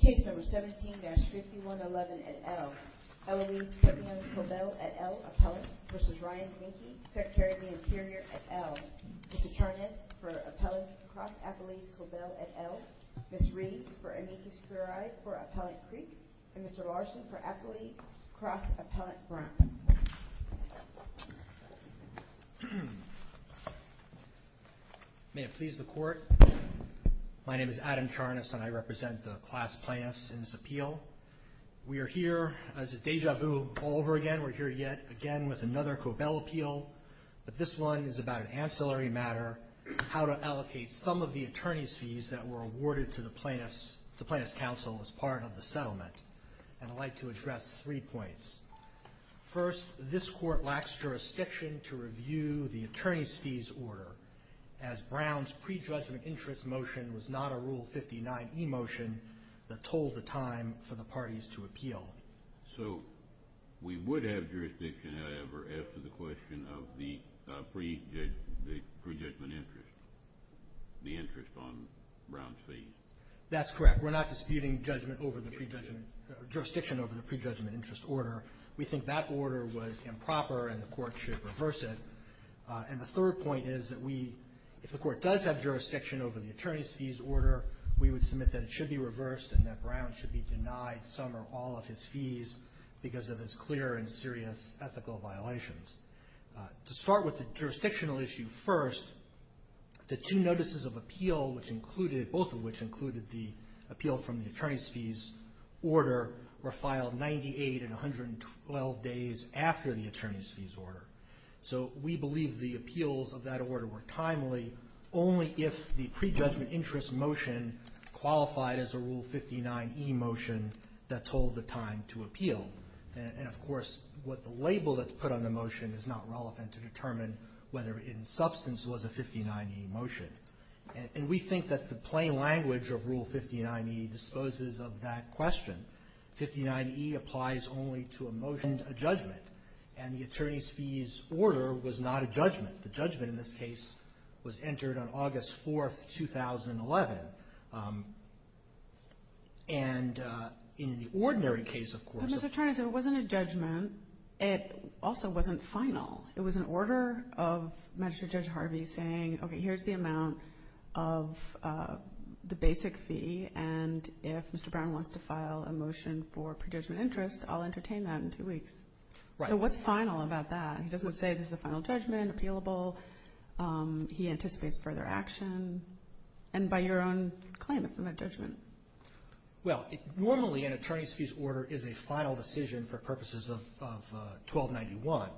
v. Ryan Zinke, Secretary of the Interior, et al. Mr. Tarnas for appellants, cross-appellees, Cobell, et al. Ms. Reeves for amicus curiae, for appellant Creek, and Mr. Larson for appellate, cross-appellate Brown. May it please the Court, my name is Adam Tarnas and I represent the class plaintiffs in this appeal. We are here, as is deja vu all over again, we're here yet again with another Cobell appeal. But this one is about an ancillary matter, how to allocate some of the attorney's fees that were awarded to the plaintiffs, the plaintiffs' counsel, as part of the settlement. And I'd like to address three points. First, this Court lacks jurisdiction to review the attorney's fees order, as Brown's prejudgment interest motion was not a Rule 59e motion that told the time for the parties to appeal. So we would have jurisdiction, however, as to the question of the prejudgment interest, the interest on Brown's fees. That's correct. We're not disputing judgment over the prejudgment or jurisdiction over the prejudgment interest order. We think that order was improper and the Court should reverse it. And the third point is that we, if the Court does have jurisdiction over the attorney's fees order, we would submit that it should be reversed and that Brown should be denied some or all of his fees because of his clear and serious ethical violations. To start with the jurisdictional issue first, the two notices of appeal, both of which included the appeal from the attorney's fees order, were filed 98 and 112 days after the attorney's fees order. So we believe the appeals of that order were timely only if the prejudgment interest motion qualified as a Rule 59e motion that told the time to appeal. And, of course, what the label that's put on the motion is not relevant to determine whether in substance it was a 59e motion. And we think that the plain language of Rule 59e disposes of that question. 59e applies only to a motion, a judgment, and the attorney's fees order was not a judgment. The judgment in this case was entered on August 4th, 2011. And in the ordinary case, of course. But, Mr. Tarnas, it wasn't a judgment. It also wasn't final. It was an order of Magistrate Judge Harvey saying, okay, here's the amount of the basic fee, and if Mr. Brown wants to file a motion for prejudgment interest, I'll entertain that in two weeks. So what's final about that? He doesn't say this is a final judgment, appealable. He anticipates further action. And by your own claim, it's not a judgment. Well, normally an attorney's fees order is a final decision for purposes of 1291.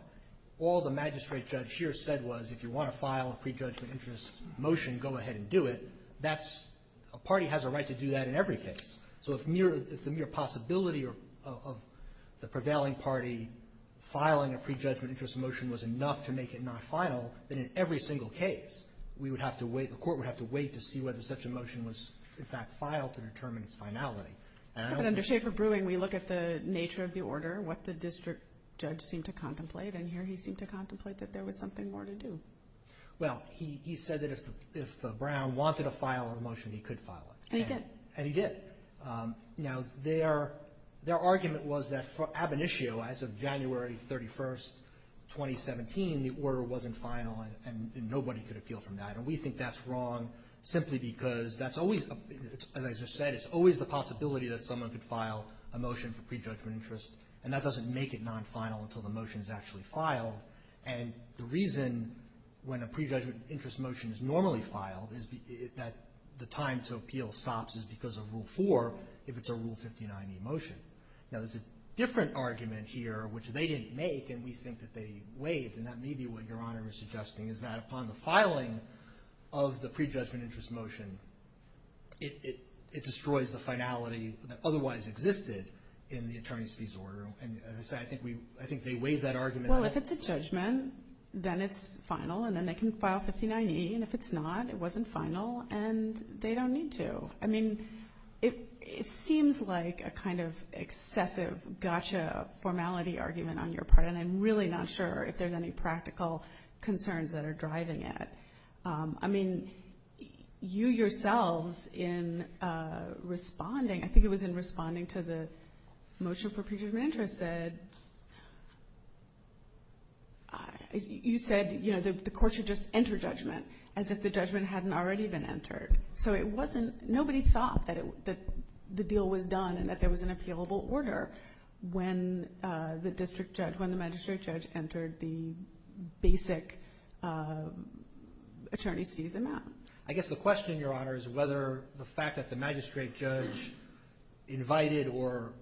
All the Magistrate Judge here said was if you want to file a prejudgment interest motion, go ahead and do it. That's – a party has a right to do that in every case. So if the mere possibility of the prevailing party filing a prejudgment interest motion was enough to make it not final, then in every single case we would have to wait – the court would have to wait to see whether such a motion was in fact filed to determine its finality. But under Schaefer-Brewing, we look at the nature of the order, what the district judge seemed to contemplate, and here he seemed to contemplate that there was something more to do. Well, he said that if Brown wanted to file a motion, he could file it. And he did. And he did. Now, their argument was that for ab initio, as of January 31, 2017, the order wasn't final and nobody could appeal from that. And we think that's wrong simply because that's always – as I just said, it's always the possibility that someone could file a motion for prejudgment interest and that doesn't make it non-final until the motion is actually filed. And the reason when a prejudgment interest motion is normally filed is that the time to appeal stops is because of Rule 4 if it's a Rule 59e motion. Now, there's a different argument here, which they didn't make, and we think that they waived, and that may be what Your Honor is suggesting, is that upon the filing of the prejudgment interest motion, it destroys the finality that otherwise existed in the attorney's fees order. And as I said, I think they waived that argument. Well, if it's a judgment, then it's final, and then they can file 59e. And if it's not, it wasn't final, and they don't need to. I mean, it seems like a kind of excessive gotcha formality argument on your part, and I'm really not sure if there's any practical concerns that are driving it. I mean, you yourselves in responding, I think it was in responding to the motion for prejudgment interest that you said, you know, the court should just enter judgment as if the judgment hadn't already been entered. So nobody thought that the deal was done and that there was an appealable order when the magistrate judge entered the basic attorney's fees amount. I guess the question, Your Honor, is whether the fact that the magistrate judge invited or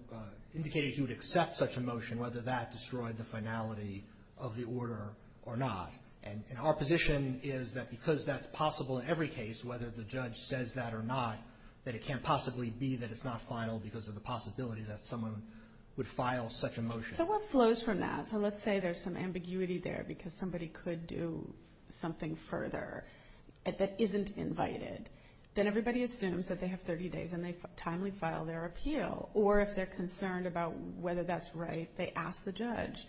indicated he would accept such a motion, whether that destroyed the finality of the order or not. And our position is that because that's possible in every case, whether the judge says that or not, that it can't possibly be that it's not final because of the possibility that someone would file such a motion. So what flows from that? So let's say there's some ambiguity there because somebody could do something further that isn't invited. Then everybody assumes that they have 30 days and they timely file their appeal. Or if they're concerned about whether that's right, they ask the judge,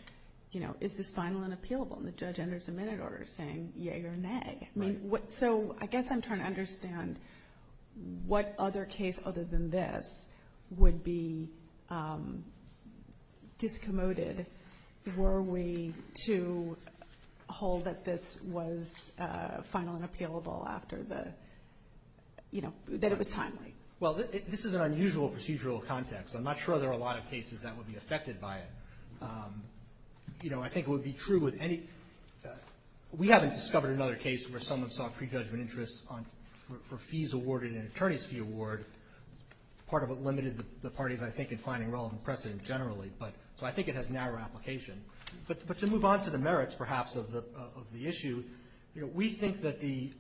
you know, is this final and appealable? And the judge enters a minute order saying yea or nay. I mean, so I guess I'm trying to understand what other case other than this would be discommoded were we to hold that this was final and appealable after the, you know, that it was timely. Well, this is an unusual procedural context. I'm not sure there are a lot of cases that would be affected by it. You know, I think it would be true with any we haven't discovered another case where someone saw prejudgment interest for fees awarded in an attorney's fee award. Part of it limited the parties, I think, in finding relevant precedent generally. So I think it has narrow application. But to move on to the merits, perhaps, of the issue, you know, we think that the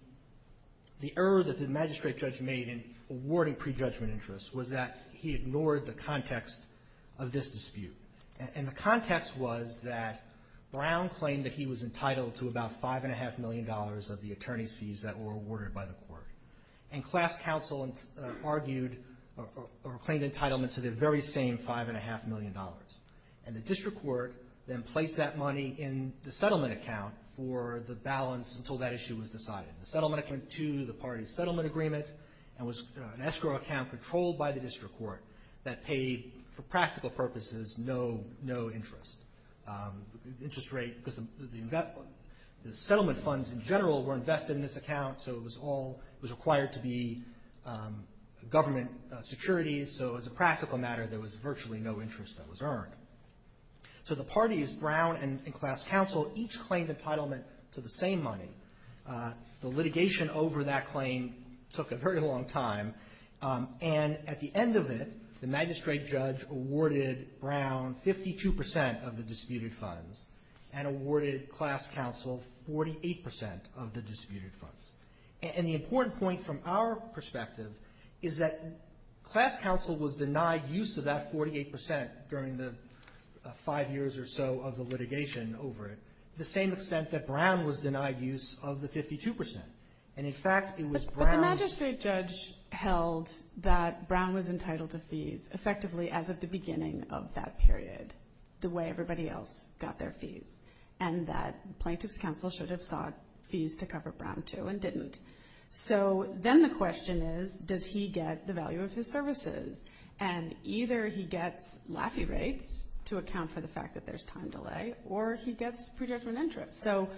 error that the magistrate judge made in awarding prejudgment interest was that he ignored the context of this dispute. And the context was that Brown claimed that he was entitled to about $5.5 million of the attorney's fees that were awarded by the court. And class counsel argued or claimed entitlement to the very same $5.5 million. And the district court then placed that money in the settlement account for the balance until that issue was decided. The settlement account to the parties settlement agreement and was an escrow account controlled by the district court that paid, for practical purposes, no interest. Interest rate, because the settlement funds in general were invested in this account. So it was all, it was required to be government securities. So as a practical matter, there was virtually no interest that was earned. So the parties, Brown and class counsel, each claimed entitlement to the same money. The litigation over that claim took a very long time. And at the end of it, the magistrate judge awarded Brown 52 percent of the disputed funds and awarded class counsel 48 percent of the disputed funds. And the important point from our perspective is that class counsel was denied use of that 48 percent during the five years or so of the litigation over it, the same extent that Brown was denied use of the 52 percent. And in fact, it was Brown's. But the magistrate judge held that Brown was entitled to fees effectively as of the beginning of that period, the way everybody else got their fees, and that plaintiff's counsel should have sought fees to cover Brown too and didn't. So then the question is, does he get the value of his services? And either he gets Laffey rates to account for the fact that there's time delay, or he gets prejudgment interest. So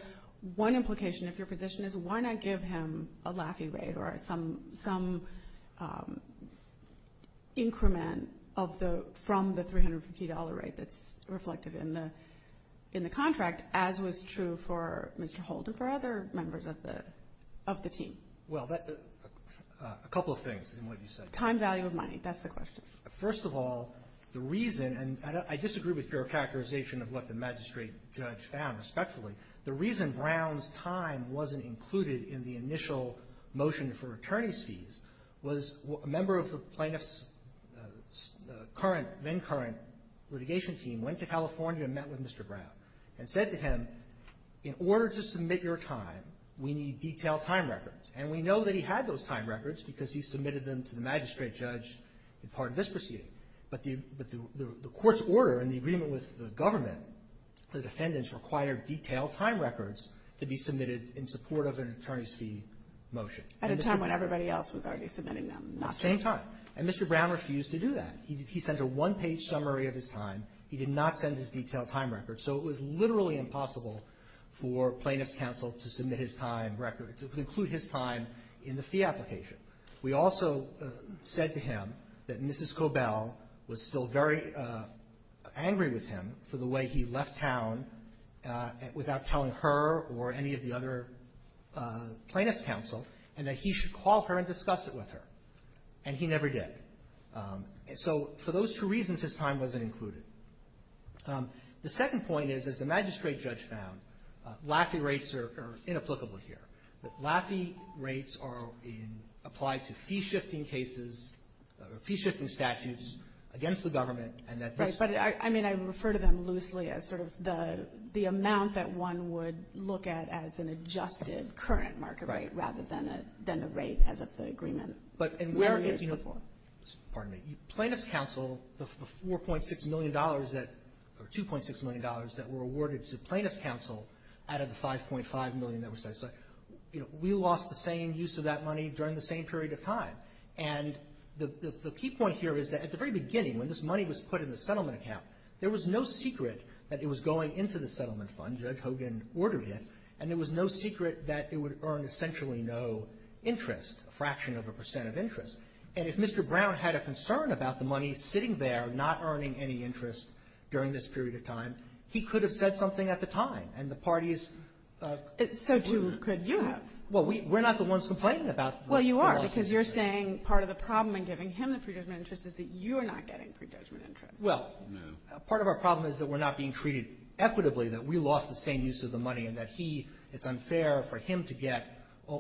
one implication of your position is why not give him a Laffey rate or some increment of the — from the $350 rate that's reflected in the contract, as was true for Mr. Holden, for other members of the team? Well, a couple of things in what you said. Time, value of money. That's the question. First of all, the reason — and I disagree with your characterization of what the magistrate judge found respectfully. The reason Brown's time wasn't included in the initial motion for attorney's fees was a member of the plaintiff's current — then-current litigation team went to California and met with Mr. Brown and said to him, in order to submit your time, we need detailed time records. And we know that he had those time records because he submitted them to the magistrate judge in part of this proceeding. But the court's order and the agreement with the government, the defendants required detailed time records to be submitted in support of an attorney's fee motion. At a time when everybody else was already submitting them, not just — At the same time. And Mr. Brown refused to do that. He sent a one-page summary of his time. He did not send his detailed time record. So it was literally impossible for plaintiff's counsel to submit his time record, to include his time in the fee application. We also said to him that Mrs. Cobell was still very angry with him for the way he left town without telling her or any of the other plaintiff's counsel, and that he should call her and discuss it with her. And he never did. So for those two reasons, his time wasn't included. The second point is, as the magistrate judge found, Laffey rates are inapplicable here. Laffey rates are in — applied to fee-shifting cases or fee-shifting statutes against the government, and that this — Right. But I mean, I refer to them loosely as sort of the amount that one would look at as an adjusted current market rate rather than a — than the rate as of the agreement many years before. But where — pardon me. Plaintiff's counsel, the $4.6 million that — or $2.6 million that were awarded to plaintiff's counsel out of the $5.5 million that was set aside, you know, we lost the same use of that money during the same period of time. And the key point here is that at the very beginning, when this money was put in the settlement account, there was no secret that it was going into the settlement fund. Judge Hogan ordered it. And there was no secret that it would earn essentially no interest, a fraction of a percent of interest. And if Mr. Brown had a concern about the money sitting there not earning any interest during this period of time, he could have said something at the time. And the parties — So too could you have. Well, we're not the ones complaining about the loss. Well, you are, because you're saying part of the problem in giving him the pre-judgment interest is that you are not getting pre-judgment interest. Well, part of our problem is that we're not being treated equitably, that we lost the same use of the money, and that he — it's unfair for him to get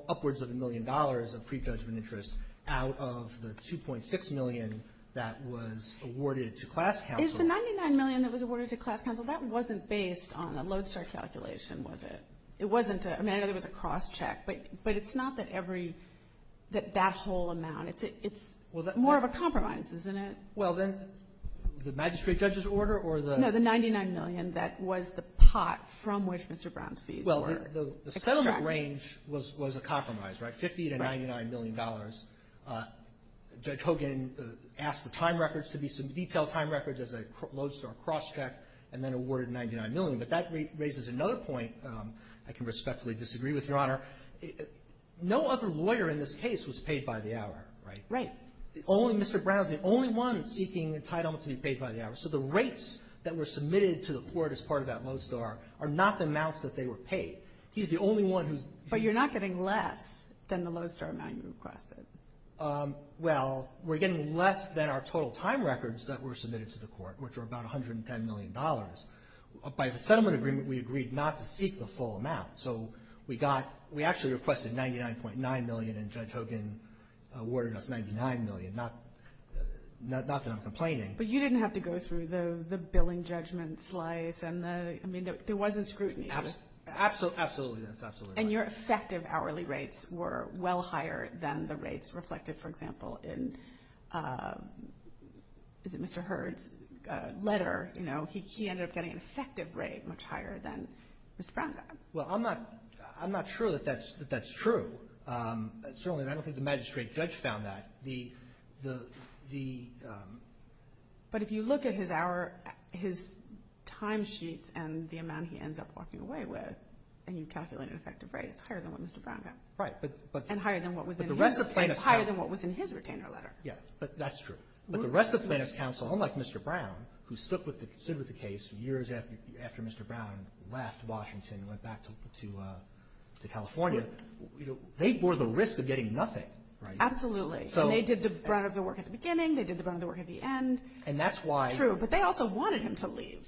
upwards of a million dollars of pre-judgment interest out of the $2.6 million that was awarded to class counsel. Is the $99 million that was awarded to class counsel, that wasn't based on a Lodestar calculation, was it? It wasn't a — I mean, I know there was a cross-check, but it's not that every — that whole amount. It's more of a compromise, isn't it? Well, then the magistrate judge's order or the — No, the $99 million that was the pot from which Mr. Brown's fees were extracted. Well, the settlement range was a compromise, right? $50 to $99 million. Judge Hogan asked the time records to be some detailed time records as a Lodestar cross-check, and then awarded $99 million. But that raises another point I can respectfully disagree with, Your Honor. No other lawyer in this case was paid by the hour, right? Right. Only Mr. Brown's the only one seeking entitlement to be paid by the hour. So the rates that were submitted to the court as part of that Lodestar are not the amounts that they were paid. He's the only one who's — But you're not getting less than the Lodestar amount you requested. Well, we're getting less than our total time records that were submitted to the court, which were about $110 million. By the settlement agreement, we agreed not to seek the full amount. So we got — we actually requested $99.9 million, and Judge Hogan awarded us $99 million, not that I'm complaining. But you didn't have to go through the billing judgment slice and the — I mean, there wasn't scrutiny. Absolutely. That's absolutely right. And your effective hourly rates were well higher than the rates reflected, for example, in — is it Mr. Hurd's letter? You know, he ended up getting an effective rate much higher than Mr. Brown got. Well, I'm not — I'm not sure that that's true. Certainly, I don't think the magistrate judge found that. The — But if you look at his hour — his timesheets and the amount he ends up walking away with, and you calculate an effective rate, it's higher than what Mr. Brown got. Right. But — And higher than what was in his — higher than what was in his retainer letter. Yeah. But that's true. But the rest of the plaintiff's counsel, unlike Mr. Brown, who stood with the case years after Mr. Brown left Washington and went back to California, they bore the risk of getting nothing, right? Absolutely. And they did the brunt of the work at the beginning. They did the brunt of the work at the end. And that's why — But they also wanted him to leave.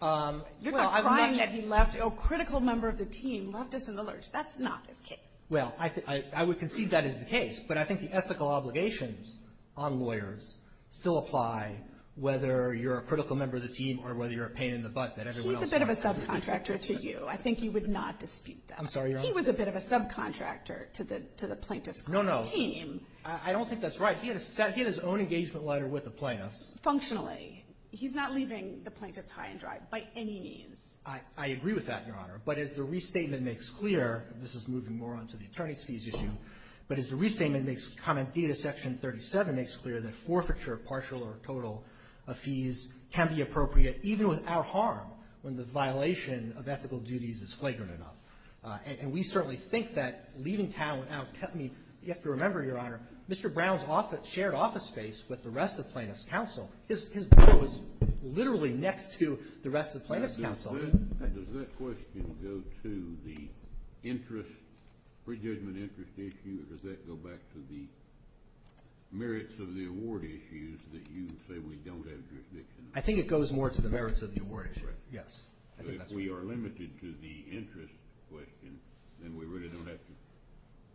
You're not crying that he left. A critical member of the team left us in the lurch. That's not his case. Well, I would concede that is the case. But I think the ethical obligations on lawyers still apply, whether you're a critical member of the team or whether you're a pain in the butt that everyone else has. He's a bit of a subcontractor to you. I think you would not dispute that. I'm sorry, Your Honor. He was a bit of a subcontractor to the plaintiff's team. No, no. I don't think that's right. He had his own engagement letter with the plaintiffs. Functionally. He's not leaving the plaintiffs high and dry by any means. I agree with that, Your Honor. But as the restatement makes clear, this is moving more on to the attorney's fees issue. But as the restatement makes common data, Section 37 makes clear that forfeiture of partial or total fees can be appropriate even without harm when the violation of ethical duties is flagrant enough. And we certainly think that leaving town without — I mean, you have to remember, Your Honor, Mr. Brown's shared office space with the rest of plaintiffs' counsel is literally next to the rest of plaintiffs' counsel. Does that question go to the interest — prejudgment interest issue? Or does that go back to the merits of the award issues that you say we don't have jurisdiction over? I think it goes more to the merits of the award issue. Right. Yes. So if we are limited to the interest question, then we really don't have to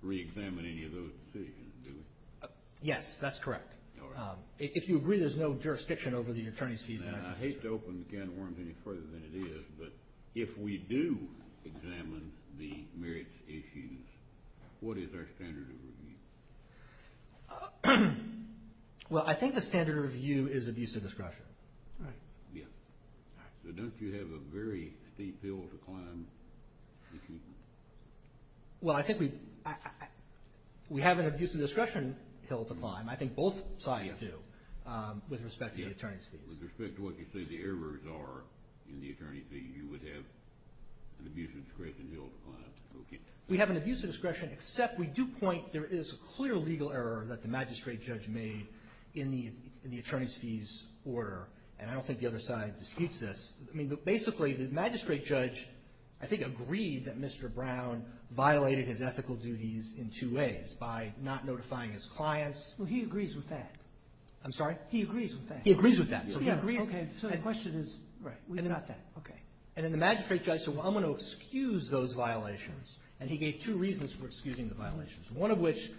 reexamine any of those decisions, do we? Yes, that's correct. All right. If you agree there's no jurisdiction over the attorney's fees and ethics issue. Now, I hate to open the can of worms any further than it is, but if we do examine the merits issues, what is our standard of review? Well, I think the standard of review is abuse of discretion. All right. Yes. So don't you have a very steep hill to climb if you — I think both sides do with respect to the attorney's fees. With respect to what you say the errors are in the attorney's fees, you would have an abuse of discretion hill to climb. Okay. We have an abuse of discretion, except we do point there is a clear legal error that the magistrate judge made in the attorney's fees order. And I don't think the other side disputes this. I mean, basically, the magistrate judge, I think, agreed that Mr. Brown violated his ethical duties in two ways, by not notifying his clients. Well, he agrees with that. I'm sorry? He agrees with that. He agrees with that. Okay. So the question is, we've got that. Okay. And then the magistrate judge said, well, I'm going to excuse those violations. And he gave two reasons for excusing the violations, one of which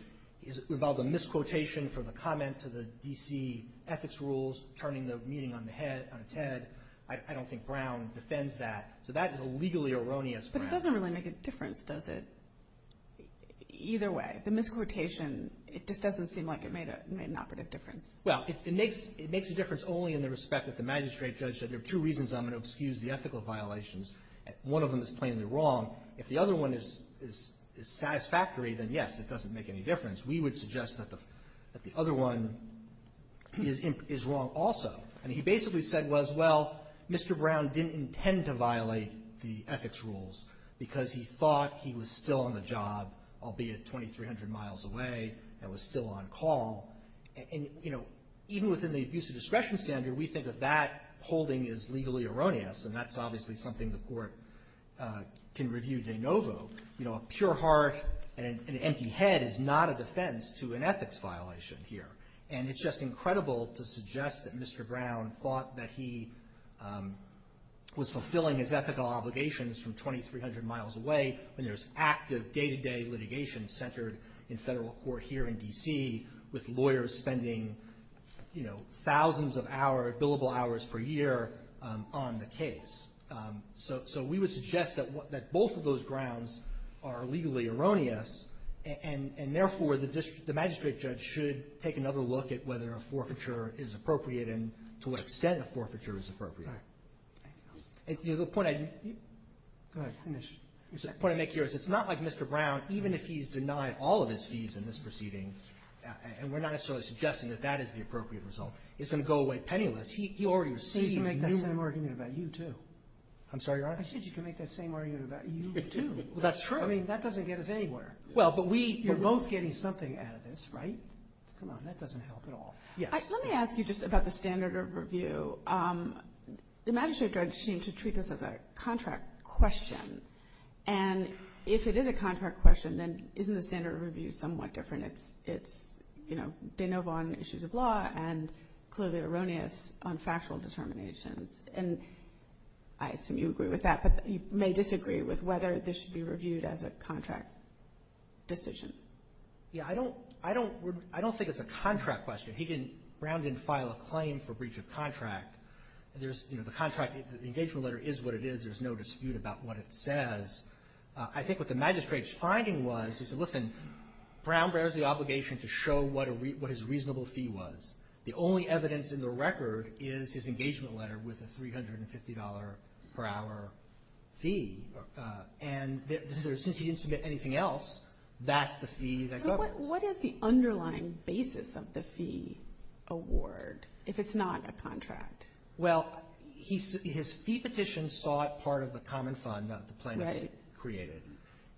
is about the misquotation from the comment to the D.C. ethics rules, turning the meeting on its head. I don't think Brown defends that. So that is a legally erroneous Brown. But it doesn't really make a difference, does it? Either way. The misquotation, it just doesn't seem like it made an operative difference. Well, it makes a difference only in the respect that the magistrate judge said, there are two reasons I'm going to excuse the ethical violations. One of them is plainly wrong. If the other one is satisfactory, then, yes, it doesn't make any difference. We would suggest that the other one is wrong also. I mean, he basically said, well, Mr. Brown didn't intend to violate the ethics rules because he thought he was still on the job, albeit 2,300 miles away, and was still on call. And, you know, even within the abuse of discretion standard, we think of that holding as legally erroneous. And that's obviously something the Court can review de novo. You know, a pure heart and an empty head is not a defense to an ethics violation here. And it's just incredible to suggest that Mr. Brown thought that he was fulfilling his ethical obligations from 2,300 miles away when there's active day-to-day litigation centered in federal court here in D.C. with lawyers spending, you know, thousands of billable hours per year on the case. So we would suggest that both of those grounds are legally erroneous, and therefore, the magistrate judge should take another look at whether a forfeiture is appropriate and to what extent a forfeiture is appropriate. The point I make here is it's not like Mr. Brown, even if he's denied all of his fees in this proceeding, and we're not necessarily suggesting that that is the appropriate result, is going to go away penniless. He already received numerous fees. I said you can make that same argument about you, too. I'm sorry, Your Honor? I said you can make that same argument about you, too. Well, that's true. I mean, that doesn't get us anywhere. Well, but we — You're both getting something out of this, right? Come on. That doesn't help at all. Yes. Let me ask you just about the standard of review. The magistrate judge seemed to treat this as a contract question. And if it is a contract question, then isn't the standard of review somewhat different? It's, you know, de novo on issues of law and clearly erroneous on factual determinations. And I assume you agree with that, but you may disagree with whether this should be reviewed as a contract decision. Yeah. I don't think it's a contract question. He didn't — Brown didn't file a claim for breach of contract. There's, you know, the contract, the engagement letter is what it is. There's no dispute about what it says. I think what the magistrate's finding was, he said, listen, Brown bears the obligation to show what his reasonable fee was. The only evidence in the record is his engagement letter with a $350 per hour fee. And since he didn't submit anything else, that's the fee that governs. But what is the underlying basis of the fee award if it's not a contract? Well, his fee petition saw it part of the common fund that the plaintiffs created.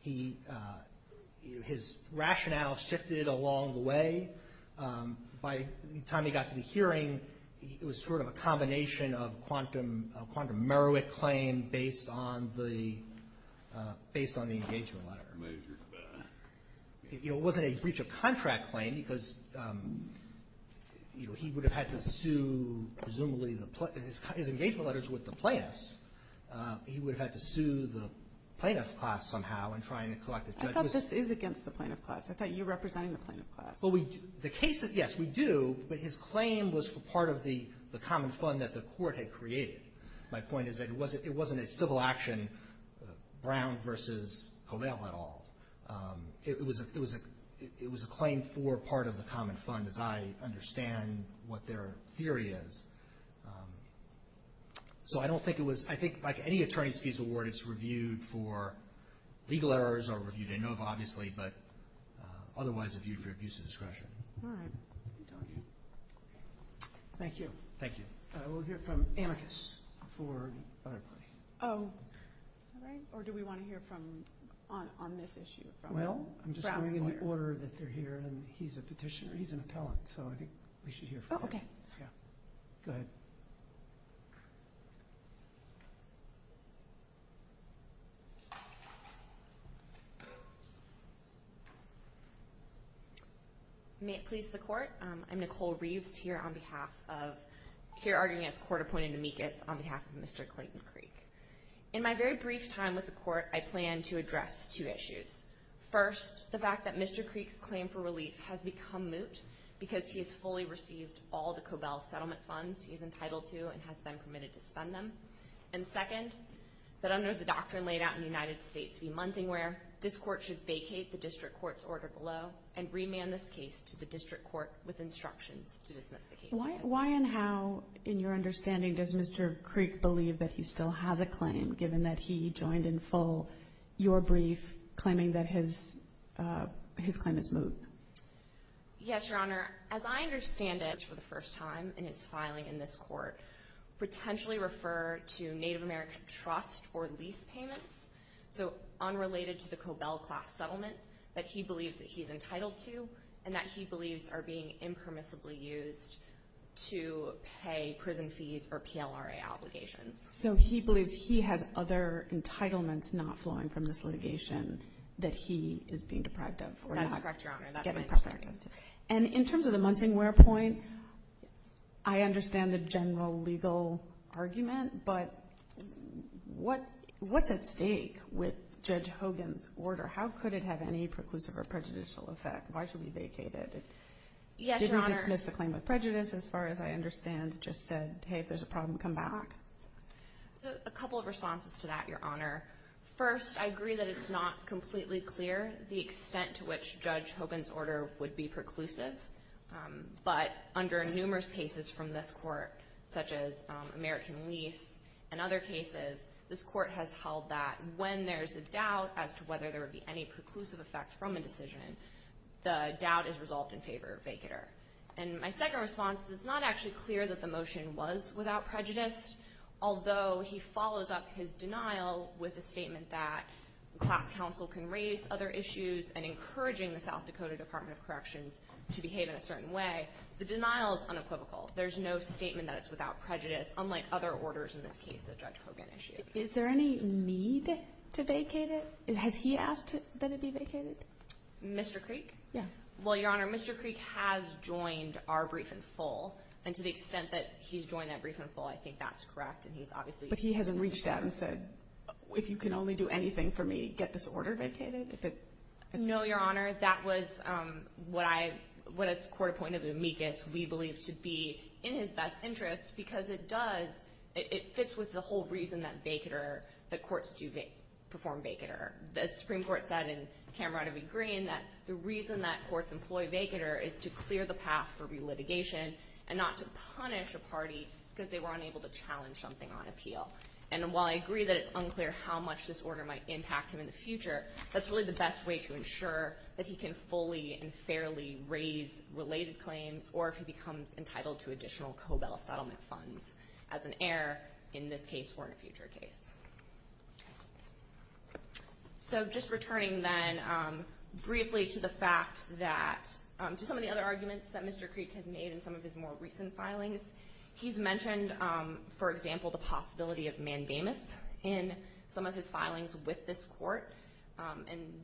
His rationale shifted along the way. By the time he got to the hearing, it was sort of a combination of a quantum Merowick claim based on the engagement letter. You know, it wasn't a breach of contract claim because, you know, he would have had to sue presumably the — his engagement letters with the plaintiffs. He would have had to sue the plaintiff class somehow in trying to collect the judge's — I thought this is against the plaintiff class. I thought you were representing the plaintiff class. Well, we — the case — yes, we do, but his claim was for part of the common fund that the court had created. My point is that it wasn't a civil action, Brown versus Covell at all. It was a claim for part of the common fund, as I understand what their theory is. So I don't think it was — I think like any attorney's fees award, it's reviewed for legal errors or reviewed in nova, obviously, but otherwise reviewed for abuse of discretion. All right. Thank you. Thank you. We'll hear from Amicus for the other party. Oh. All right. Or do we want to hear from — on this issue from Brown Square? Well, I'm just going in the order that they're here, and he's a petitioner. He's an appellant, so I think we should hear from him. Oh, okay. Yeah. Go ahead. May it please the court. I'm Nicole Reeves here on behalf of — here arguing as court-appointed Amicus on behalf of Mr. Clayton Creek. In my very brief time with the court, I plan to address two issues. First, the fact that Mr. Creek's claim for relief has become moot because he has fully received all the Covell settlement funds he is entitled to and has been permitted to spend them. And second, that under the doctrine laid out in the United States v. Munsingwear, this court should vacate the district court's order below and remand this case to the district court with instructions to dismiss the case. Why and how, in your understanding, does Mr. Creek believe that he still has a claim, given that he joined in full your brief claiming that his claim is moot? Yes, Your Honor. As I understand it, for the first time in his filing in this court, potentially refer to Native American trust or lease payments, so unrelated to the Covell class settlement that he believes that he's entitled to and that he believes are being impermissibly used to pay prison fees or PLRA obligations. So he believes he has other entitlements not flowing from this litigation that he is being deprived of. That is correct, Your Honor. And in terms of the Munsingwear point, I understand the general legal argument, but what's at stake with Judge Hogan's order? How could it have any preclusive or prejudicial effect? Why should we vacate it? Yes, Your Honor. Did we dismiss the claim of prejudice, as far as I understand? Just said, hey, if there's a problem, come back? So a couple of responses to that, Your Honor. First, I agree that it's not completely clear the extent to which Judge Hogan's order would be preclusive, but under numerous cases from this court, such as American lease and other cases, this court has held that when there's a doubt as to whether there would be any preclusive effect from a decision, the doubt is resolved in favor of vacater. And my second response is it's not actually clear that the motion was without prejudice, although he follows up his denial with a statement that class counsel can raise other issues and encouraging the South Dakota Department of Corrections to behave in a certain way, the denial is unequivocal. There's no statement that it's without prejudice, unlike other orders in this case that Judge Hogan issued. Is there any need to vacate it? Has he asked that it be vacated? Mr. Creek? Yeah. Well, Your Honor, Mr. Creek has joined our brief in full, and to the extent that he's joined that brief in full, I think that's correct, and he's obviously But he hasn't reached out and said, if you can only do anything for me, get this order vacated? No, Your Honor. That was what I – what, as a court appointed amicus, we believe to be in his best interest, because it does – it fits with the whole reason that vacater – that courts do perform vacater. The Supreme Court said in Cameron v. Green that the reason that courts employ vacater is to clear the path for relitigation and not to punish a party because they were unable to challenge something on appeal. And while I agree that it's unclear how much this order might impact him in the future, that's really the best way to ensure that he can fully and fairly raise related claims or if he becomes entitled to additional COBEL settlement funds as an heir in this case or in a future case. So just returning then briefly to the fact that – to some of the other arguments that Mr. Creek has made in some of his more recent filings, he's mentioned, for example, the possibility of mandamus in some of his filings with this court. And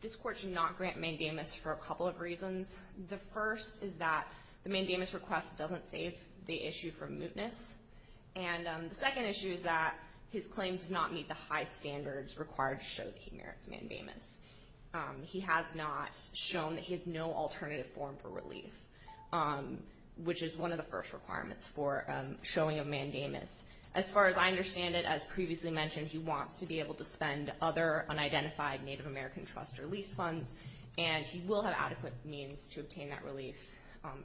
this court should not grant mandamus for a couple of reasons. The first is that the mandamus request doesn't save the issue from mootness. And the second issue is that his claim does not meet the high standards required to show that he merits mandamus. He has not shown that he has no alternative form for relief, which is one of the first requirements for showing a mandamus. As far as I understand it, as previously mentioned, he wants to be able to spend other unidentified Native American trust or lease funds, and he will have adequate means to obtain that relief,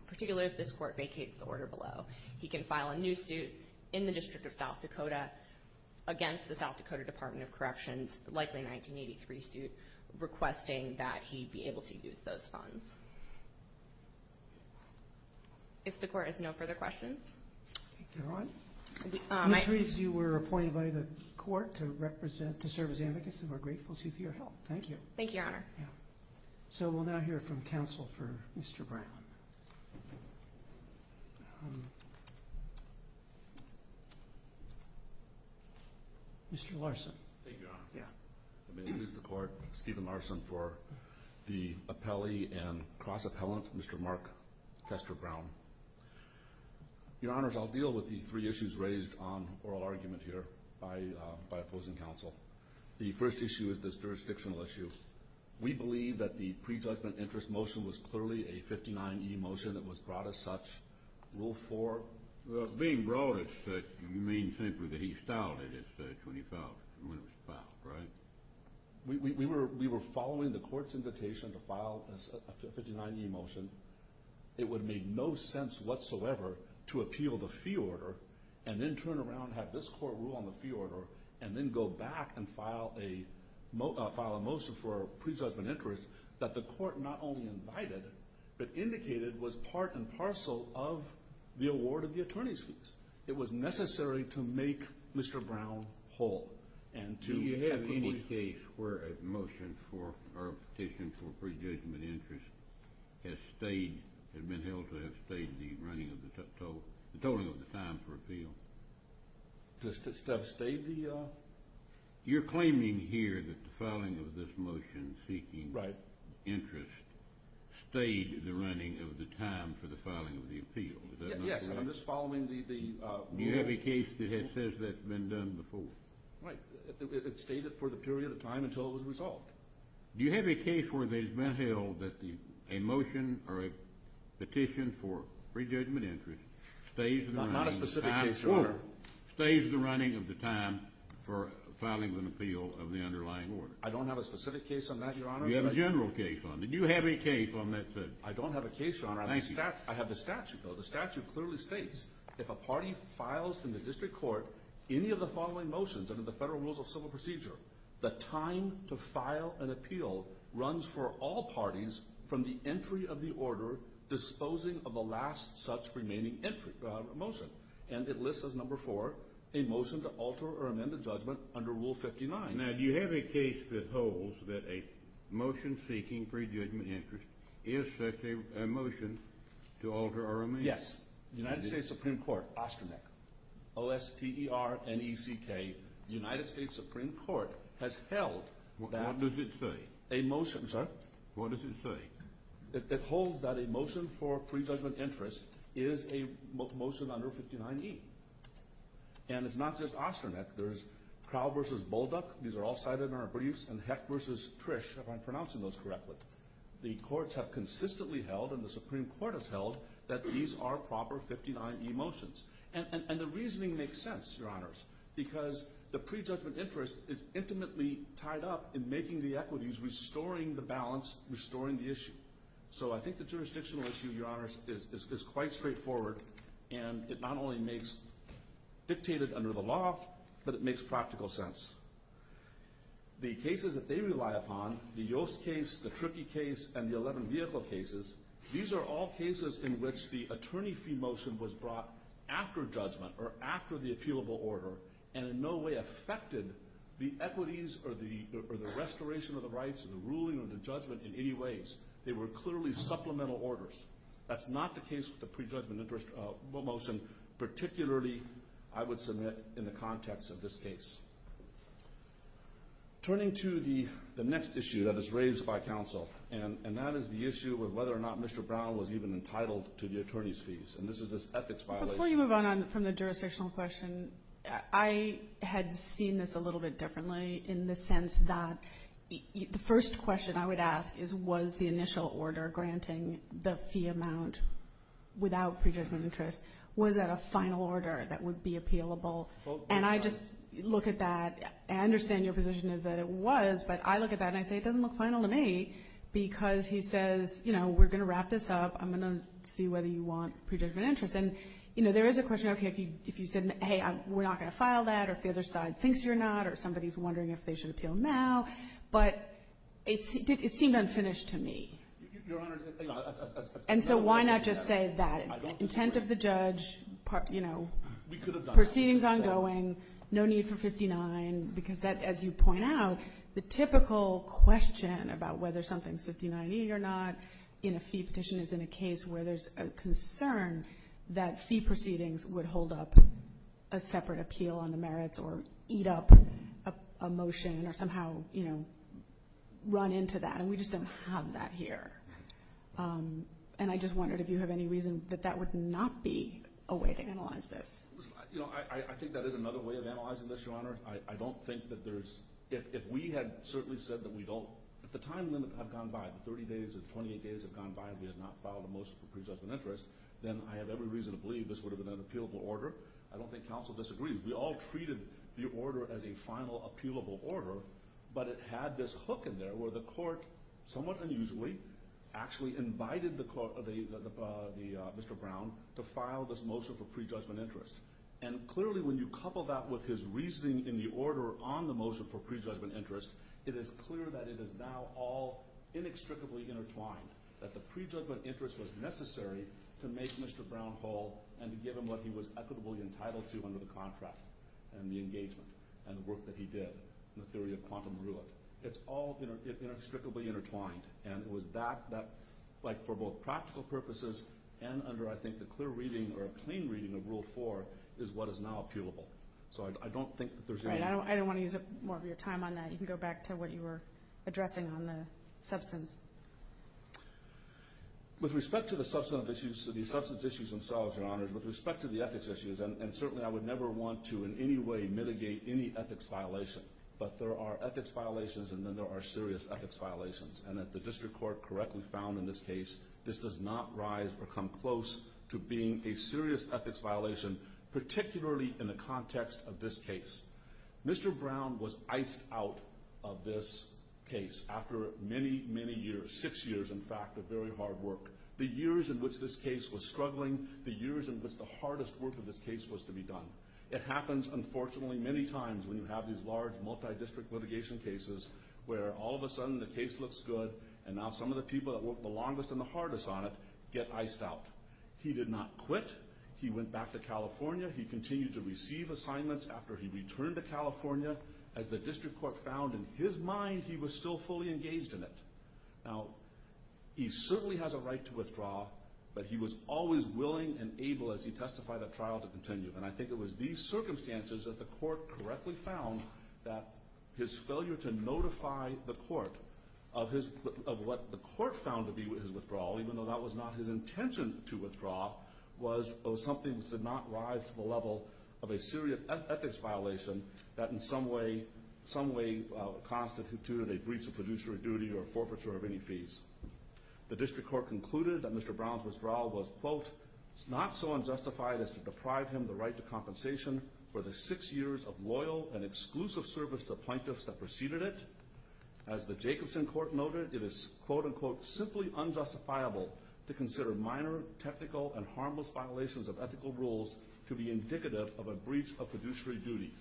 particularly if this court vacates the order below. He can file a new suit in the District of South Dakota against the South Dakota Department of Corrections, likely 1983 suit, requesting that he be able to use those funds. If the court has no further questions. Ms. Reeves, you were appointed by the court to represent, to serve as advocacy. We're grateful to you for your help. Thank you. Thank you, Your Honor. So we'll now hear from counsel for Mr. Brown. Mr. Larson. Thank you, Your Honor. May it please the Court, Stephen Larson for the appellee and cross-appellant, Mr. Mark Tester Brown. Your Honors, I'll deal with the three issues raised on oral argument here by opposing counsel. The first issue is this jurisdictional issue. We believe that the prejudgment interest motion was clearly a 59E motion that was brought as such. Rule 4? Being brought as such, you mean simply that he stalled it as such when it was filed, right? We were following the court's invitation to file a 59E motion. It would make no sense whatsoever to appeal the fee order and then turn around and have this court rule on the fee order and then go back and file a motion for a prejudgment interest that the court not only invited, but indicated was part and parcel of the award of the attorney's fees. It was necessary to make Mr. Brown whole. Do you have any case where a motion for or a petition for prejudgment interest has been held to have stayed the tolling of the time for appeal? To have stayed the... You're claiming here that the filing of this motion seeking interest stayed the running of the time for the filing of the appeal, is that not correct? Yes, I'm just following the... Do you have a case that says that's been done before? Right. It stayed it for the period of time until it was resolved. Do you have a case where it has been held that a motion or a petition for prejudgment interest stays the running of the time... Not a specific case, Your Honor. ...stays the running of the time for filing an appeal of the underlying order? I don't have a specific case on that, Your Honor. You have a general case on it. Do you have a case on that, sir? I don't have a case, Your Honor. I have the statute, though. The statute clearly states if a party files in the district court any of the following motions under the federal rules of civil procedure, the time to file an appeal runs for all parties from the entry of the order disposing of the last such remaining entry motion. And it lists as number four a motion to alter or amend the judgment under Rule 59. Now, do you have a case that holds that a motion seeking prejudgment interest is such a motion to alter or amend? Yes. The United States Supreme Court, OSTRNEC, O-S-T-E-R-N-E-C-K, the United States Supreme Court has held that... What does it say? A motion, sir. What does it say? It holds that a motion for prejudgment interest is a motion under 59E. And it's not just OSTRNEC. There's Crow versus Bullduck. These are all cited in our briefs. And Heck versus Trish, if I'm pronouncing those correctly. The courts have consistently held, and the Supreme Court has held, that these are proper 59E motions. And the reasoning makes sense, Your Honors, because the prejudgment interest is intimately tied up in making the equities, restoring the balance, restoring the issue. So I think the jurisdictional issue, Your Honors, is quite straightforward. And it not only makes dictated under the law, but it makes practical sense. The cases that they rely upon, the Yoast case, the Tricky case, and the 11 vehicle cases, these are all cases in which the attorney fee motion was brought after judgment, or after the appealable order, and in no way affected the equities or the restoration of the rights or the ruling or the judgment in any ways. They were clearly supplemental orders. That's not the case with the prejudgment interest motion, particularly I would submit in the context of this case. Turning to the next issue that is raised by counsel, and that is the issue of whether or not Mr. Brown was even entitled to the attorney's fees. And this is this ethics violation. Before you move on from the jurisdictional question, I had seen this a little bit differently in the sense that the first question I would ask is, was the initial order granting the fee amount without prejudgment interest, was that a final order that would be appealable? And I just look at that. I understand your position is that it was, but I look at that and I say, it doesn't look final to me because he says, you know, we're going to wrap this up. I'm going to see whether you want prejudgment interest. And, you know, there is a question, okay, if you said, hey, we're not going to file that, or if the other side thinks you're not, or somebody's wondering if they should appeal now. But it seemed unfinished to me. And so why not just say that? Intent of the judge, you know, proceedings ongoing, no need for 59, because that, as you point out, the typical question about whether something's 59-80 or not in a fee petition is in a case where there's a concern that fee proceedings would hold up a separate run into that, and we just don't have that here. And I just wondered if you have any reason that that would not be a way to analyze this. You know, I think that is another way of analyzing this, Your Honor. I don't think that there's – if we had certainly said that we don't – if the time limit had gone by, the 30 days or the 28 days had gone by and we had not filed the most prejudgment interest, then I have every reason to believe this would have been an appealable order. I don't think counsel disagrees. We all treated the order as a final appealable order, but it had this hook in there where the court, somewhat unusually, actually invited the Mr. Brown to file this motion for prejudgment interest. And clearly, when you couple that with his reasoning in the order on the motion for prejudgment interest, it is clear that it is now all inextricably intertwined, that the prejudgment interest was necessary to make Mr. Brown whole and to give him what he was equitably entitled to under the contract and the engagement and the work that he did in the theory of quantum rule. It's all inextricably intertwined, and it was that – like for both practical purposes and under, I think, the clear reading or a clean reading of Rule 4 is what is now appealable. So I don't think that there's any – All right. I don't want to use up more of your time on that. You can go back to what you were addressing on the substance. With respect to the substance issues themselves, Your Honors, with respect to the ethics issues, and certainly I would never want to in any way mitigate any ethics violation, but there are ethics violations and then there are serious ethics violations. And if the district court correctly found in this case, this does not rise or come close to being a serious ethics violation, particularly in the context of this case. Mr. Brown was iced out of this case after many, many years – six years, in fact, of very hard work. The years in which this case was struggling, the years in which the hardest work of this case was to be done. It happens, unfortunately, many times when you have these large multi-district litigation cases where all of a sudden the case looks good and now some of the people that worked the longest and the hardest on it get iced out. He did not quit. He went back to California. He continued to receive assignments after he returned to California. As the district court found in his mind, he was still fully engaged in it. Now, he certainly has a right to withdraw, but he was always willing and able, as he testified at trial, to continue. And I think it was these circumstances that the court correctly found that his failure to notify the court of what the court found to be his withdrawal, even though that was not his intention to withdraw, was something that did not rise to the level of a serious ethics violation that in some way constituted a breach of fiduciary duty or forfeiture of any fees. The district court concluded that Mr. Brown's withdrawal was, quote, not so unjustified as to deprive him the right to compensation for the six years of loyal and exclusive service to plaintiffs that preceded it. As the Jacobson court noted, it is, quote, unquote, simply unjustifiable to consider minor technical and harmless violations of ethical rules to be indicative of a breach of fiduciary duty.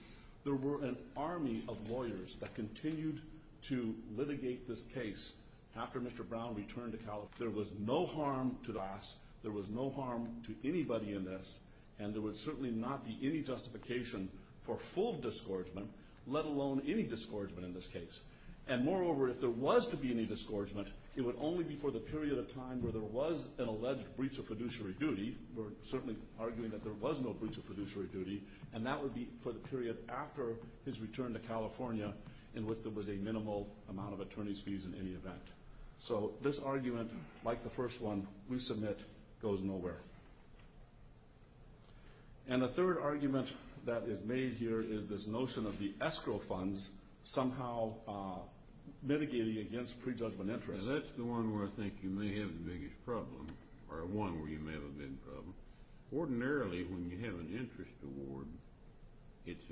There were an army of lawyers that continued to litigate this case after Mr. Brown returned to California. There was no harm to Das, there was no harm to anybody in this, and there would certainly not be any justification for full discouragement, let alone any discouragement in this case. And moreover, if there was to be any discouragement, it would only be for the period of time where there was an alleged breach of fiduciary duty. We're certainly arguing that there was no breach of fiduciary duty, and that would be for the period after his return to California in which there was a minimal amount of attorney's fees in any event. So this argument, like the first one we submit, goes nowhere. And the third argument that is made here is this notion of the escrow funds somehow mitigating against prejudgment interest. That's the one where I think you may have the biggest problem, or one where you may have a big problem. Ordinarily when you have an interest award, it's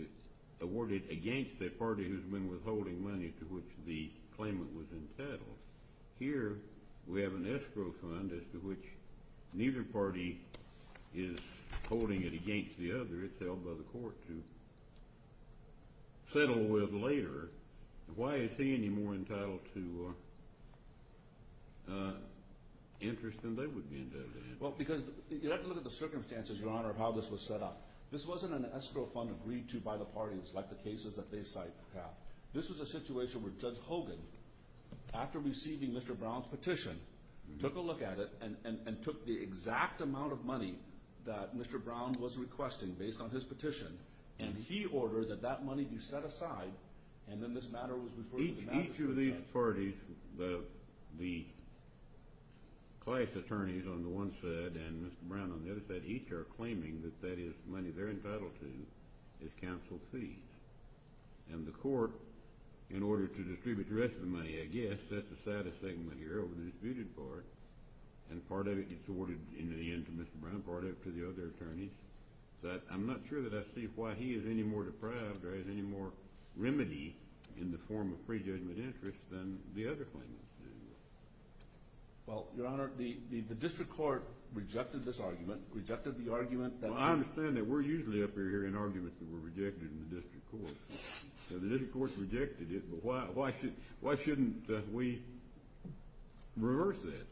awarded against a party who's been withholding money to which the claimant was entitled. Here we have an escrow fund as to which neither party is holding it against the other. It's held by the court to settle with later. Why is he any more entitled to interest than they would be entitled to interest? Well, because you have to look at the circumstances, Your Honor, of how this was set up. This wasn't an escrow fund agreed to by the parties like the cases that they cite have. This was a situation where Judge Hogan, after receiving Mr. Brown's petition, took a look at it and took the exact amount of money that Mr. Brown was requesting based on his petition, and he ordered that that money be set aside, and then this matter was referred to the magistrate's office. Each of these parties, the class attorneys on the one side and Mr. Brown on the other side, each are claiming that that is money they're entitled to as counsel fees. And the court, in order to distribute the rest of the money, I guess, sets aside a segment here over the disputed part, and part of it is awarded in the end to Mr. Brown, part of it to the other attorneys. But I'm not sure that I see why he is any more deprived or has any more remedy in the form of pre-judgment interest than the other claimants do. Well, Your Honor, the district court rejected this argument, rejected the argument that Well, I understand that we're usually up here hearing arguments that were rejected in the district court. So the district court rejected it, but why shouldn't we reverse that?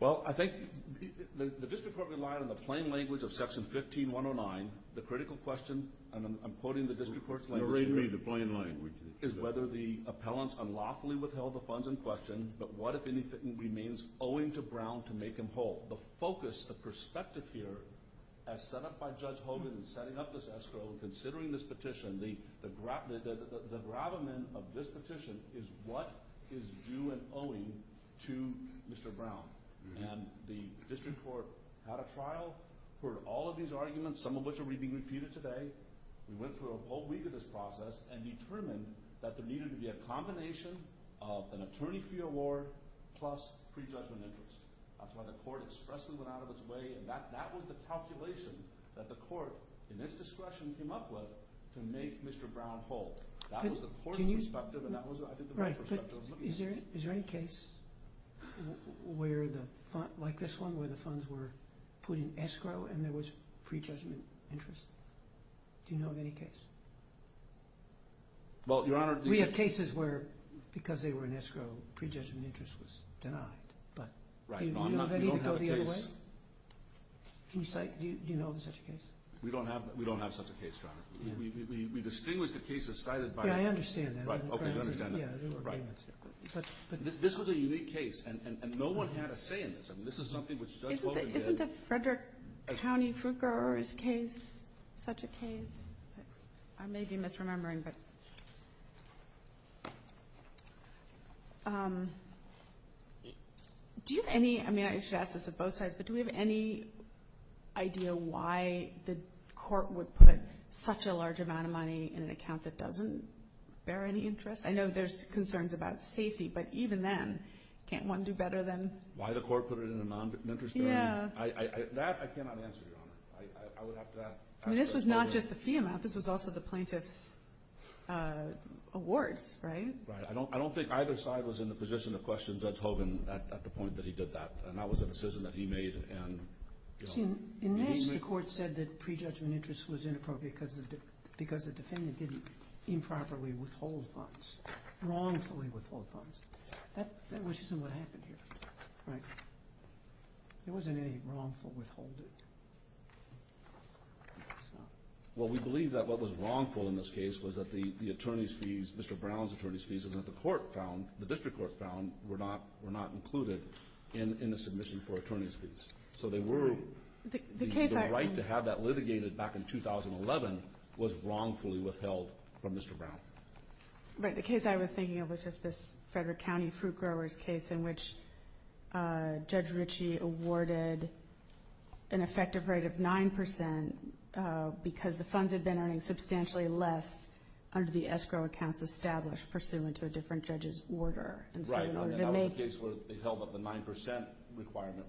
Well, I think the district court relied on the plain language of Section 15109. The critical question, and I'm quoting the district court's language here, You're reading me the plain language. is whether the appellants unlawfully withheld the funds in question, but what, if anything, remains owing to Brown to make him whole. The focus, the perspective here, as set up by Judge Hogan in setting up this escrow, considering this petition, the gravamen of this petition is what is due and owing to Mr. Brown. And the district court had a trial, heard all of these arguments, some of which are being repeated today. We went through a whole week of this process and determined that there needed to be a combination of an attorney-free award plus pre-judgment interest. That's why the court expressly went out of its way, and that was the calculation that the court, in its discretion, came up with to make Mr. Brown whole. That was the court's perspective, and that was, I think, the right perspective. Is there any case like this one where the funds were put in escrow and there was pre-judgment interest? Do you know of any case? Well, Your Honor, we have cases where, because they were in escrow, pre-judgment interest was denied. Right, Your Honor, we don't have a case. Do you know of such a case? We don't have such a case, Your Honor. We distinguish the cases cited by Yeah, I understand that. This was a unique case, and no one had a say in this. I mean, this is something which Judge Holder did. Isn't the Frederick County Fruit Growers case such a case? I may be misremembering, but do you have any? I mean, I should ask this of both sides, but do we have any idea why the court would put such a large amount of money in an account that doesn't bear any interest? I know there's concerns about safety, but even then, can't one do better than Why the court put it in an interest-bearing account? That I cannot answer, Your Honor. I would have to ask Judge Holder. I mean, this was not just the fee amount. This was also the plaintiff's awards, right? Right. I don't think either side was in the position to question Judge Hogan at the point that he did that, and that was a decision that he made. You see, in May, the court said that prejudgment interest was inappropriate because the defendant didn't improperly withhold funds, wrongfully withhold funds. That wasn't what happened here, right? There wasn't any wrongful withholding. Well, we believe that what was wrongful in this case was that the attorney's fees, Mr. Brown's attorney's fees, that the court found, the district court found, were not included in the submission for attorney's fees. So the right to have that litigated back in 2011 was wrongfully withheld from Mr. Brown. Right. The case I was thinking of was just this Frederick County fruit growers case in which Judge Ritchie awarded an effective rate of 9% because the funds had been earning substantially less under the escrow accounts established pursuant to a different judge's order. Right. And that was the case where they held that the 9% requirement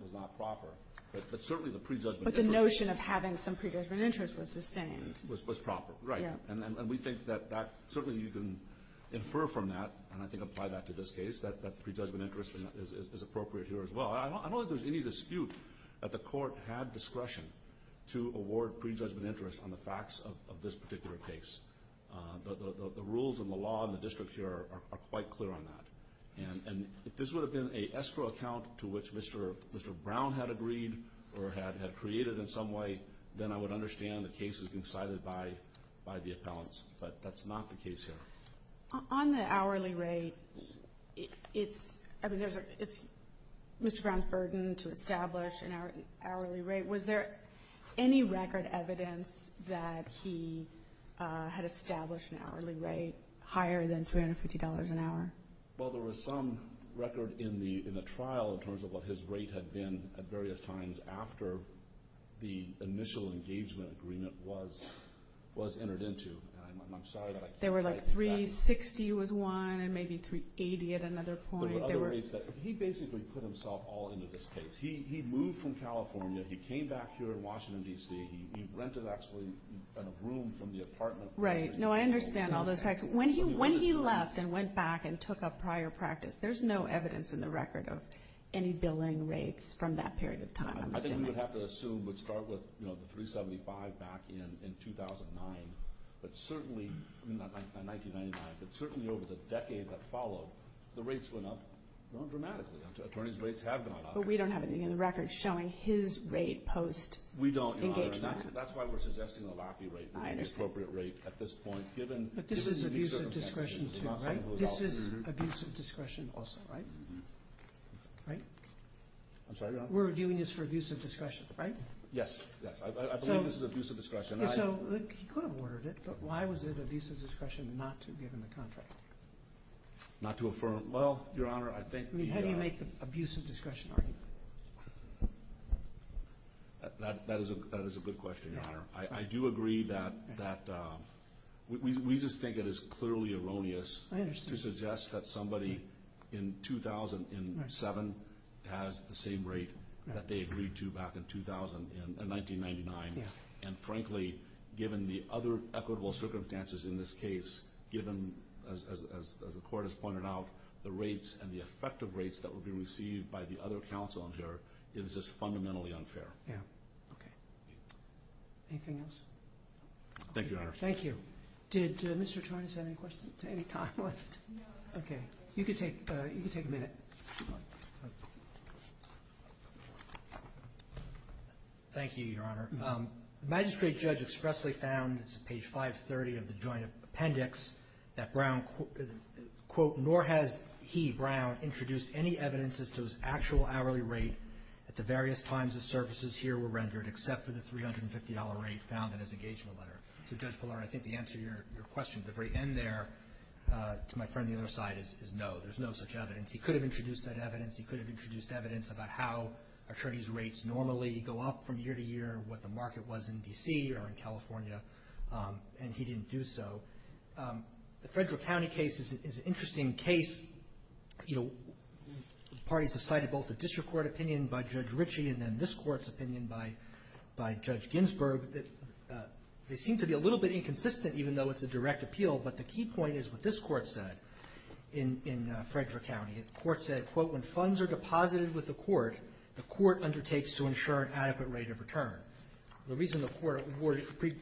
was not proper. But certainly the prejudgment interest was. But the notion of having some prejudgment interest was sustained. Was proper. Right. And we think that certainly you can infer from that, and I think apply that to this case, that prejudgment interest is appropriate here as well. I don't think there's any dispute that the court had discretion to award prejudgment interest on the facts of this particular case. The rules and the law in the district here are quite clear on that. And if this would have been an escrow account to which Mr. Brown had agreed or had created in some way, then I would understand the case has been cited by the appellants. But that's not the case here. On the hourly rate, it's Mr. Brown's burden to establish an hourly rate. Was there any record evidence that he had established an hourly rate higher than $350 an hour? Well, there was some record in the trial in terms of what his rate had been at various times after the initial engagement agreement was entered into. I'm sorry that I can't cite that. There were like 360 was one and maybe 380 at another point. There were other rates. He basically put himself all into this case. He moved from California. He came back here in Washington, D.C. He rented actually a room from the apartment. Right. No, I understand all those facts. When he left and went back and took up prior practice, there's no evidence in the record of any billing rates from that period of time. I think we would have to assume we'd start with 375 back in 2009. But certainly, not 1999, but certainly over the decade that followed, the rates went up dramatically. Attorney's rates have gone up. But we don't have anything in the record showing his rate post engagement. We don't, Your Honor. That's why we're suggesting a LAPI rate, the appropriate rate at this point. But this is abuse of discretion too, right? This is abuse of discretion also, right? Right? I'm sorry, Your Honor? We're reviewing this for abuse of discretion, right? Yes, yes. I believe this is abuse of discretion. Not to affirm? Well, Your Honor, I think the— How do you make the abuse of discretion argument? That is a good question, Your Honor. I do agree that we just think it is clearly erroneous to suggest that somebody in 2007 has the same rate that they agreed to back in 1999. And frankly, given the other equitable circumstances in this case, given, as the Court has pointed out, the rates and the effective rates that would be received by the other counsel in here, it is just fundamentally unfair. Yeah. Okay. Anything else? Thank you, Your Honor. Thank you. Did Mr. Turner have any questions? Any time left? No. Okay. You can take a minute. Thank you, Your Honor. The magistrate judge expressly found, it's page 530 of the joint appendix, that Brown, quote, nor has he, Brown, introduced any evidences to his actual hourly rate at the various times the services here were rendered, except for the $350 rate found in his engagement letter. So, Judge Pillar, I think the answer to your question at the very end there, to my friend on the other side, is no. There's no such evidence. He could have introduced that evidence. He could have introduced evidence about how attorneys' rates normally go up from year to year, what the market was in D.C. or in California, and he didn't do so. The Frederick County case is an interesting case. Parties have cited both the district court opinion by Judge Ritchie and then this Court's opinion by Judge Ginsburg. They seem to be a little bit inconsistent, even though it's a direct appeal, but the key point is what this Court said in Frederick County. The Court said, quote, when funds are deposited with the court, the court undertakes to ensure an adequate rate of return. The reason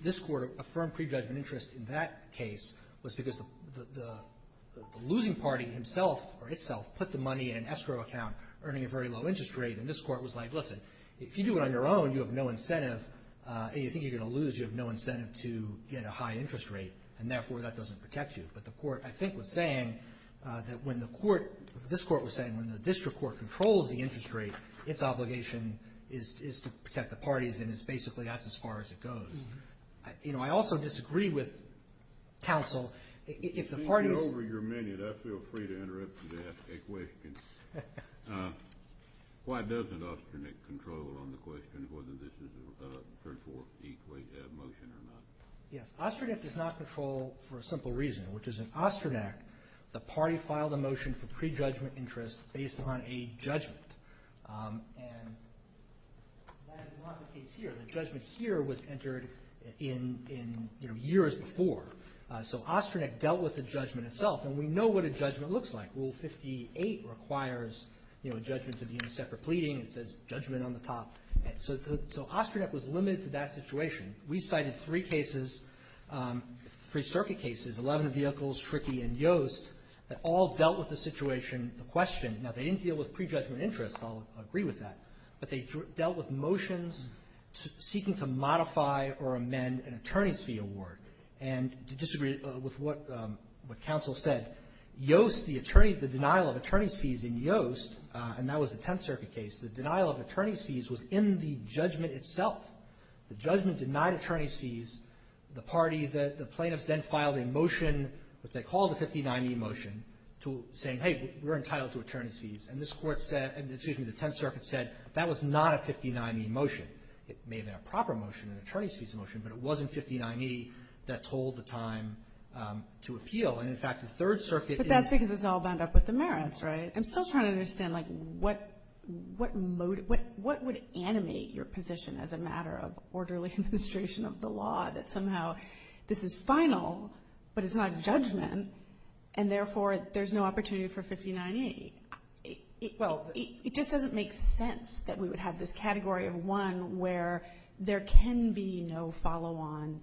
this Court affirmed prejudgment interest in that case was because the losing party himself or itself put the money in an escrow account earning a very low interest rate, and this Court was like, listen, if you do it on your own, you have no incentive, and you think you're going to lose. You have no incentive to get a high interest rate, and therefore, that doesn't protect you. But the Court, I think, was saying that when the court, this Court was saying when the district court controls the interest rate, its obligation is to protect the parties, and it's basically that's as far as it goes. You know, I also disagree with counsel. If the parties… Since you're over your minute, I feel free to interrupt you to ask a question. Why doesn't Ostronek control on the question whether this is a third-fourth motion or not? Yes, Ostronek does not control for a simple reason, which is in Ostronek, the party filed a motion for prejudgment interest based on a judgment, and that is not the case here. The judgment here was entered in years before, so Ostronek dealt with the judgment itself, and we know what a judgment looks like. Rule 58 requires, you know, a judgment to be in a separate pleading. It says judgment on the top. So Ostronek was limited to that situation. We cited three cases, three circuit cases, 11 vehicles, Tricky, and Yost, that all dealt with the situation, the question. Now, they didn't deal with prejudgment interest. I'll agree with that. But they dealt with motions seeking to modify or amend an attorney's fee award. And to disagree with what counsel said, Yost, the attorney, the denial of attorney's fees in Yost, and that was the Tenth Circuit case, the denial of attorney's fees was in the judgment itself. The judgment denied attorney's fees. The party, the plaintiffs then filed a motion, what they called a 59e motion, to say, hey, we're entitled to attorney's fees. And this Court said, excuse me, the Tenth Circuit said that was not a 59e motion. It may have been a proper motion, an attorney's fees motion, but it wasn't 59e. That told the time to appeal. And, in fact, the Third Circuit in the But that's because it's all bound up with the merits, right? I'm still trying to understand, like, what would animate your position as a matter of orderly administration of the law that somehow this is final, but it's not judgment, and therefore there's no opportunity for 59e? Well, it just doesn't make sense that we would have this category of one where there can be no follow-on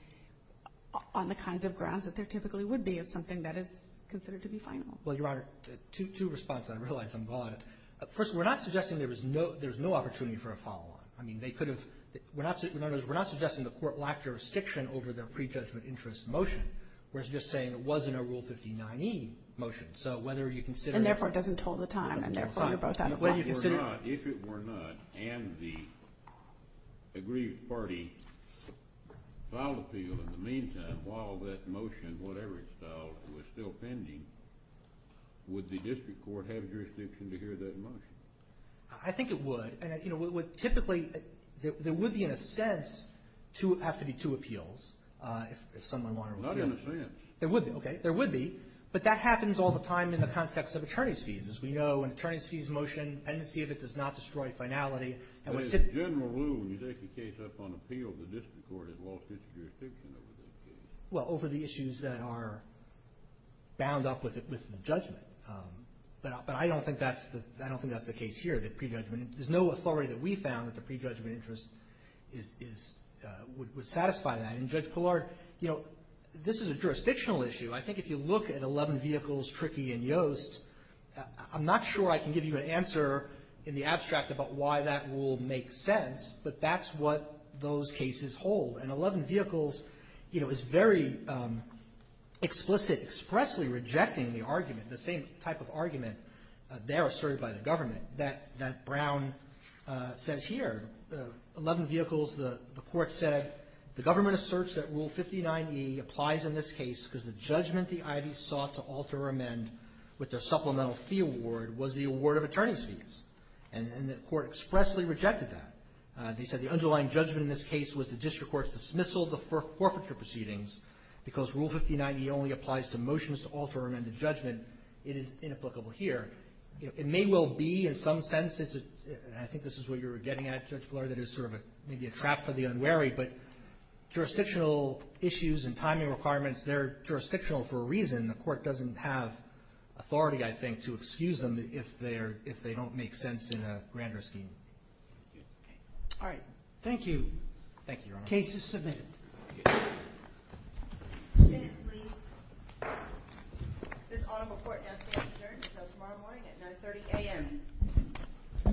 on the kinds of grounds that there typically would be of something that is considered to be final. Well, Your Honor, two responses. I realize I'm gone. First, we're not suggesting there's no opportunity for a follow-on. I mean, they could have we're not suggesting the Court lacked jurisdiction over their prejudgment interest motion. We're just saying it wasn't a Rule 59e motion. So whether you consider And, therefore, it doesn't tell the time. And, therefore, you're both out of luck. If it were not, and the agreed party filed appeal in the meantime while that motion, whatever it's called, was still pending, would the district court have jurisdiction to hear that motion? I think it would. And, you know, typically there would be, in a sense, have to be two appeals if someone wanted to appeal. Not in a sense. Okay. There would be. But that happens all the time in the context of attorney's fees. As we know, an attorney's fees motion, dependency of it does not destroy finality. General Rule, when you take a case up on appeal, the district court has lost its jurisdiction over those cases. Well, over the issues that are bound up with the judgment. But I don't think that's the case here, the prejudgment. There's no authority that we found that the prejudgment interest would satisfy that. And, Judge Pillard, you know, this is a jurisdictional issue. I think if you look at 11 vehicles, Tricky, and Yost, I'm not sure I can give you an answer in the abstract about why that rule makes sense, but that's what those cases hold. And 11 vehicles, you know, is very explicit, expressly rejecting the argument, the same type of argument there asserted by the government that Brown says here. The 11 vehicles, the court said, the government asserts that Rule 59e applies in this case because the judgment the ID sought to alter or amend with their supplemental fee award was the award of attorney's fees. And the court expressly rejected that. They said the underlying judgment in this case was the district court's dismissal of the forfeiture proceedings because Rule 59e only applies to motions to alter or amend the judgment. It is inapplicable here. It may well be in some sense, and I think this is what you're getting at, Judge Pillard, that it's sort of maybe a trap for the unwary, but jurisdictional issues and timing requirements, they're jurisdictional for a reason. The court doesn't have authority, I think, to excuse them if they don't make sense in a grander scheme. All right. Thank you. Thank you, Your Honor. Case is submitted. Stand, please. This audible court now stands adjourned until tomorrow morning at 9.30 a.m.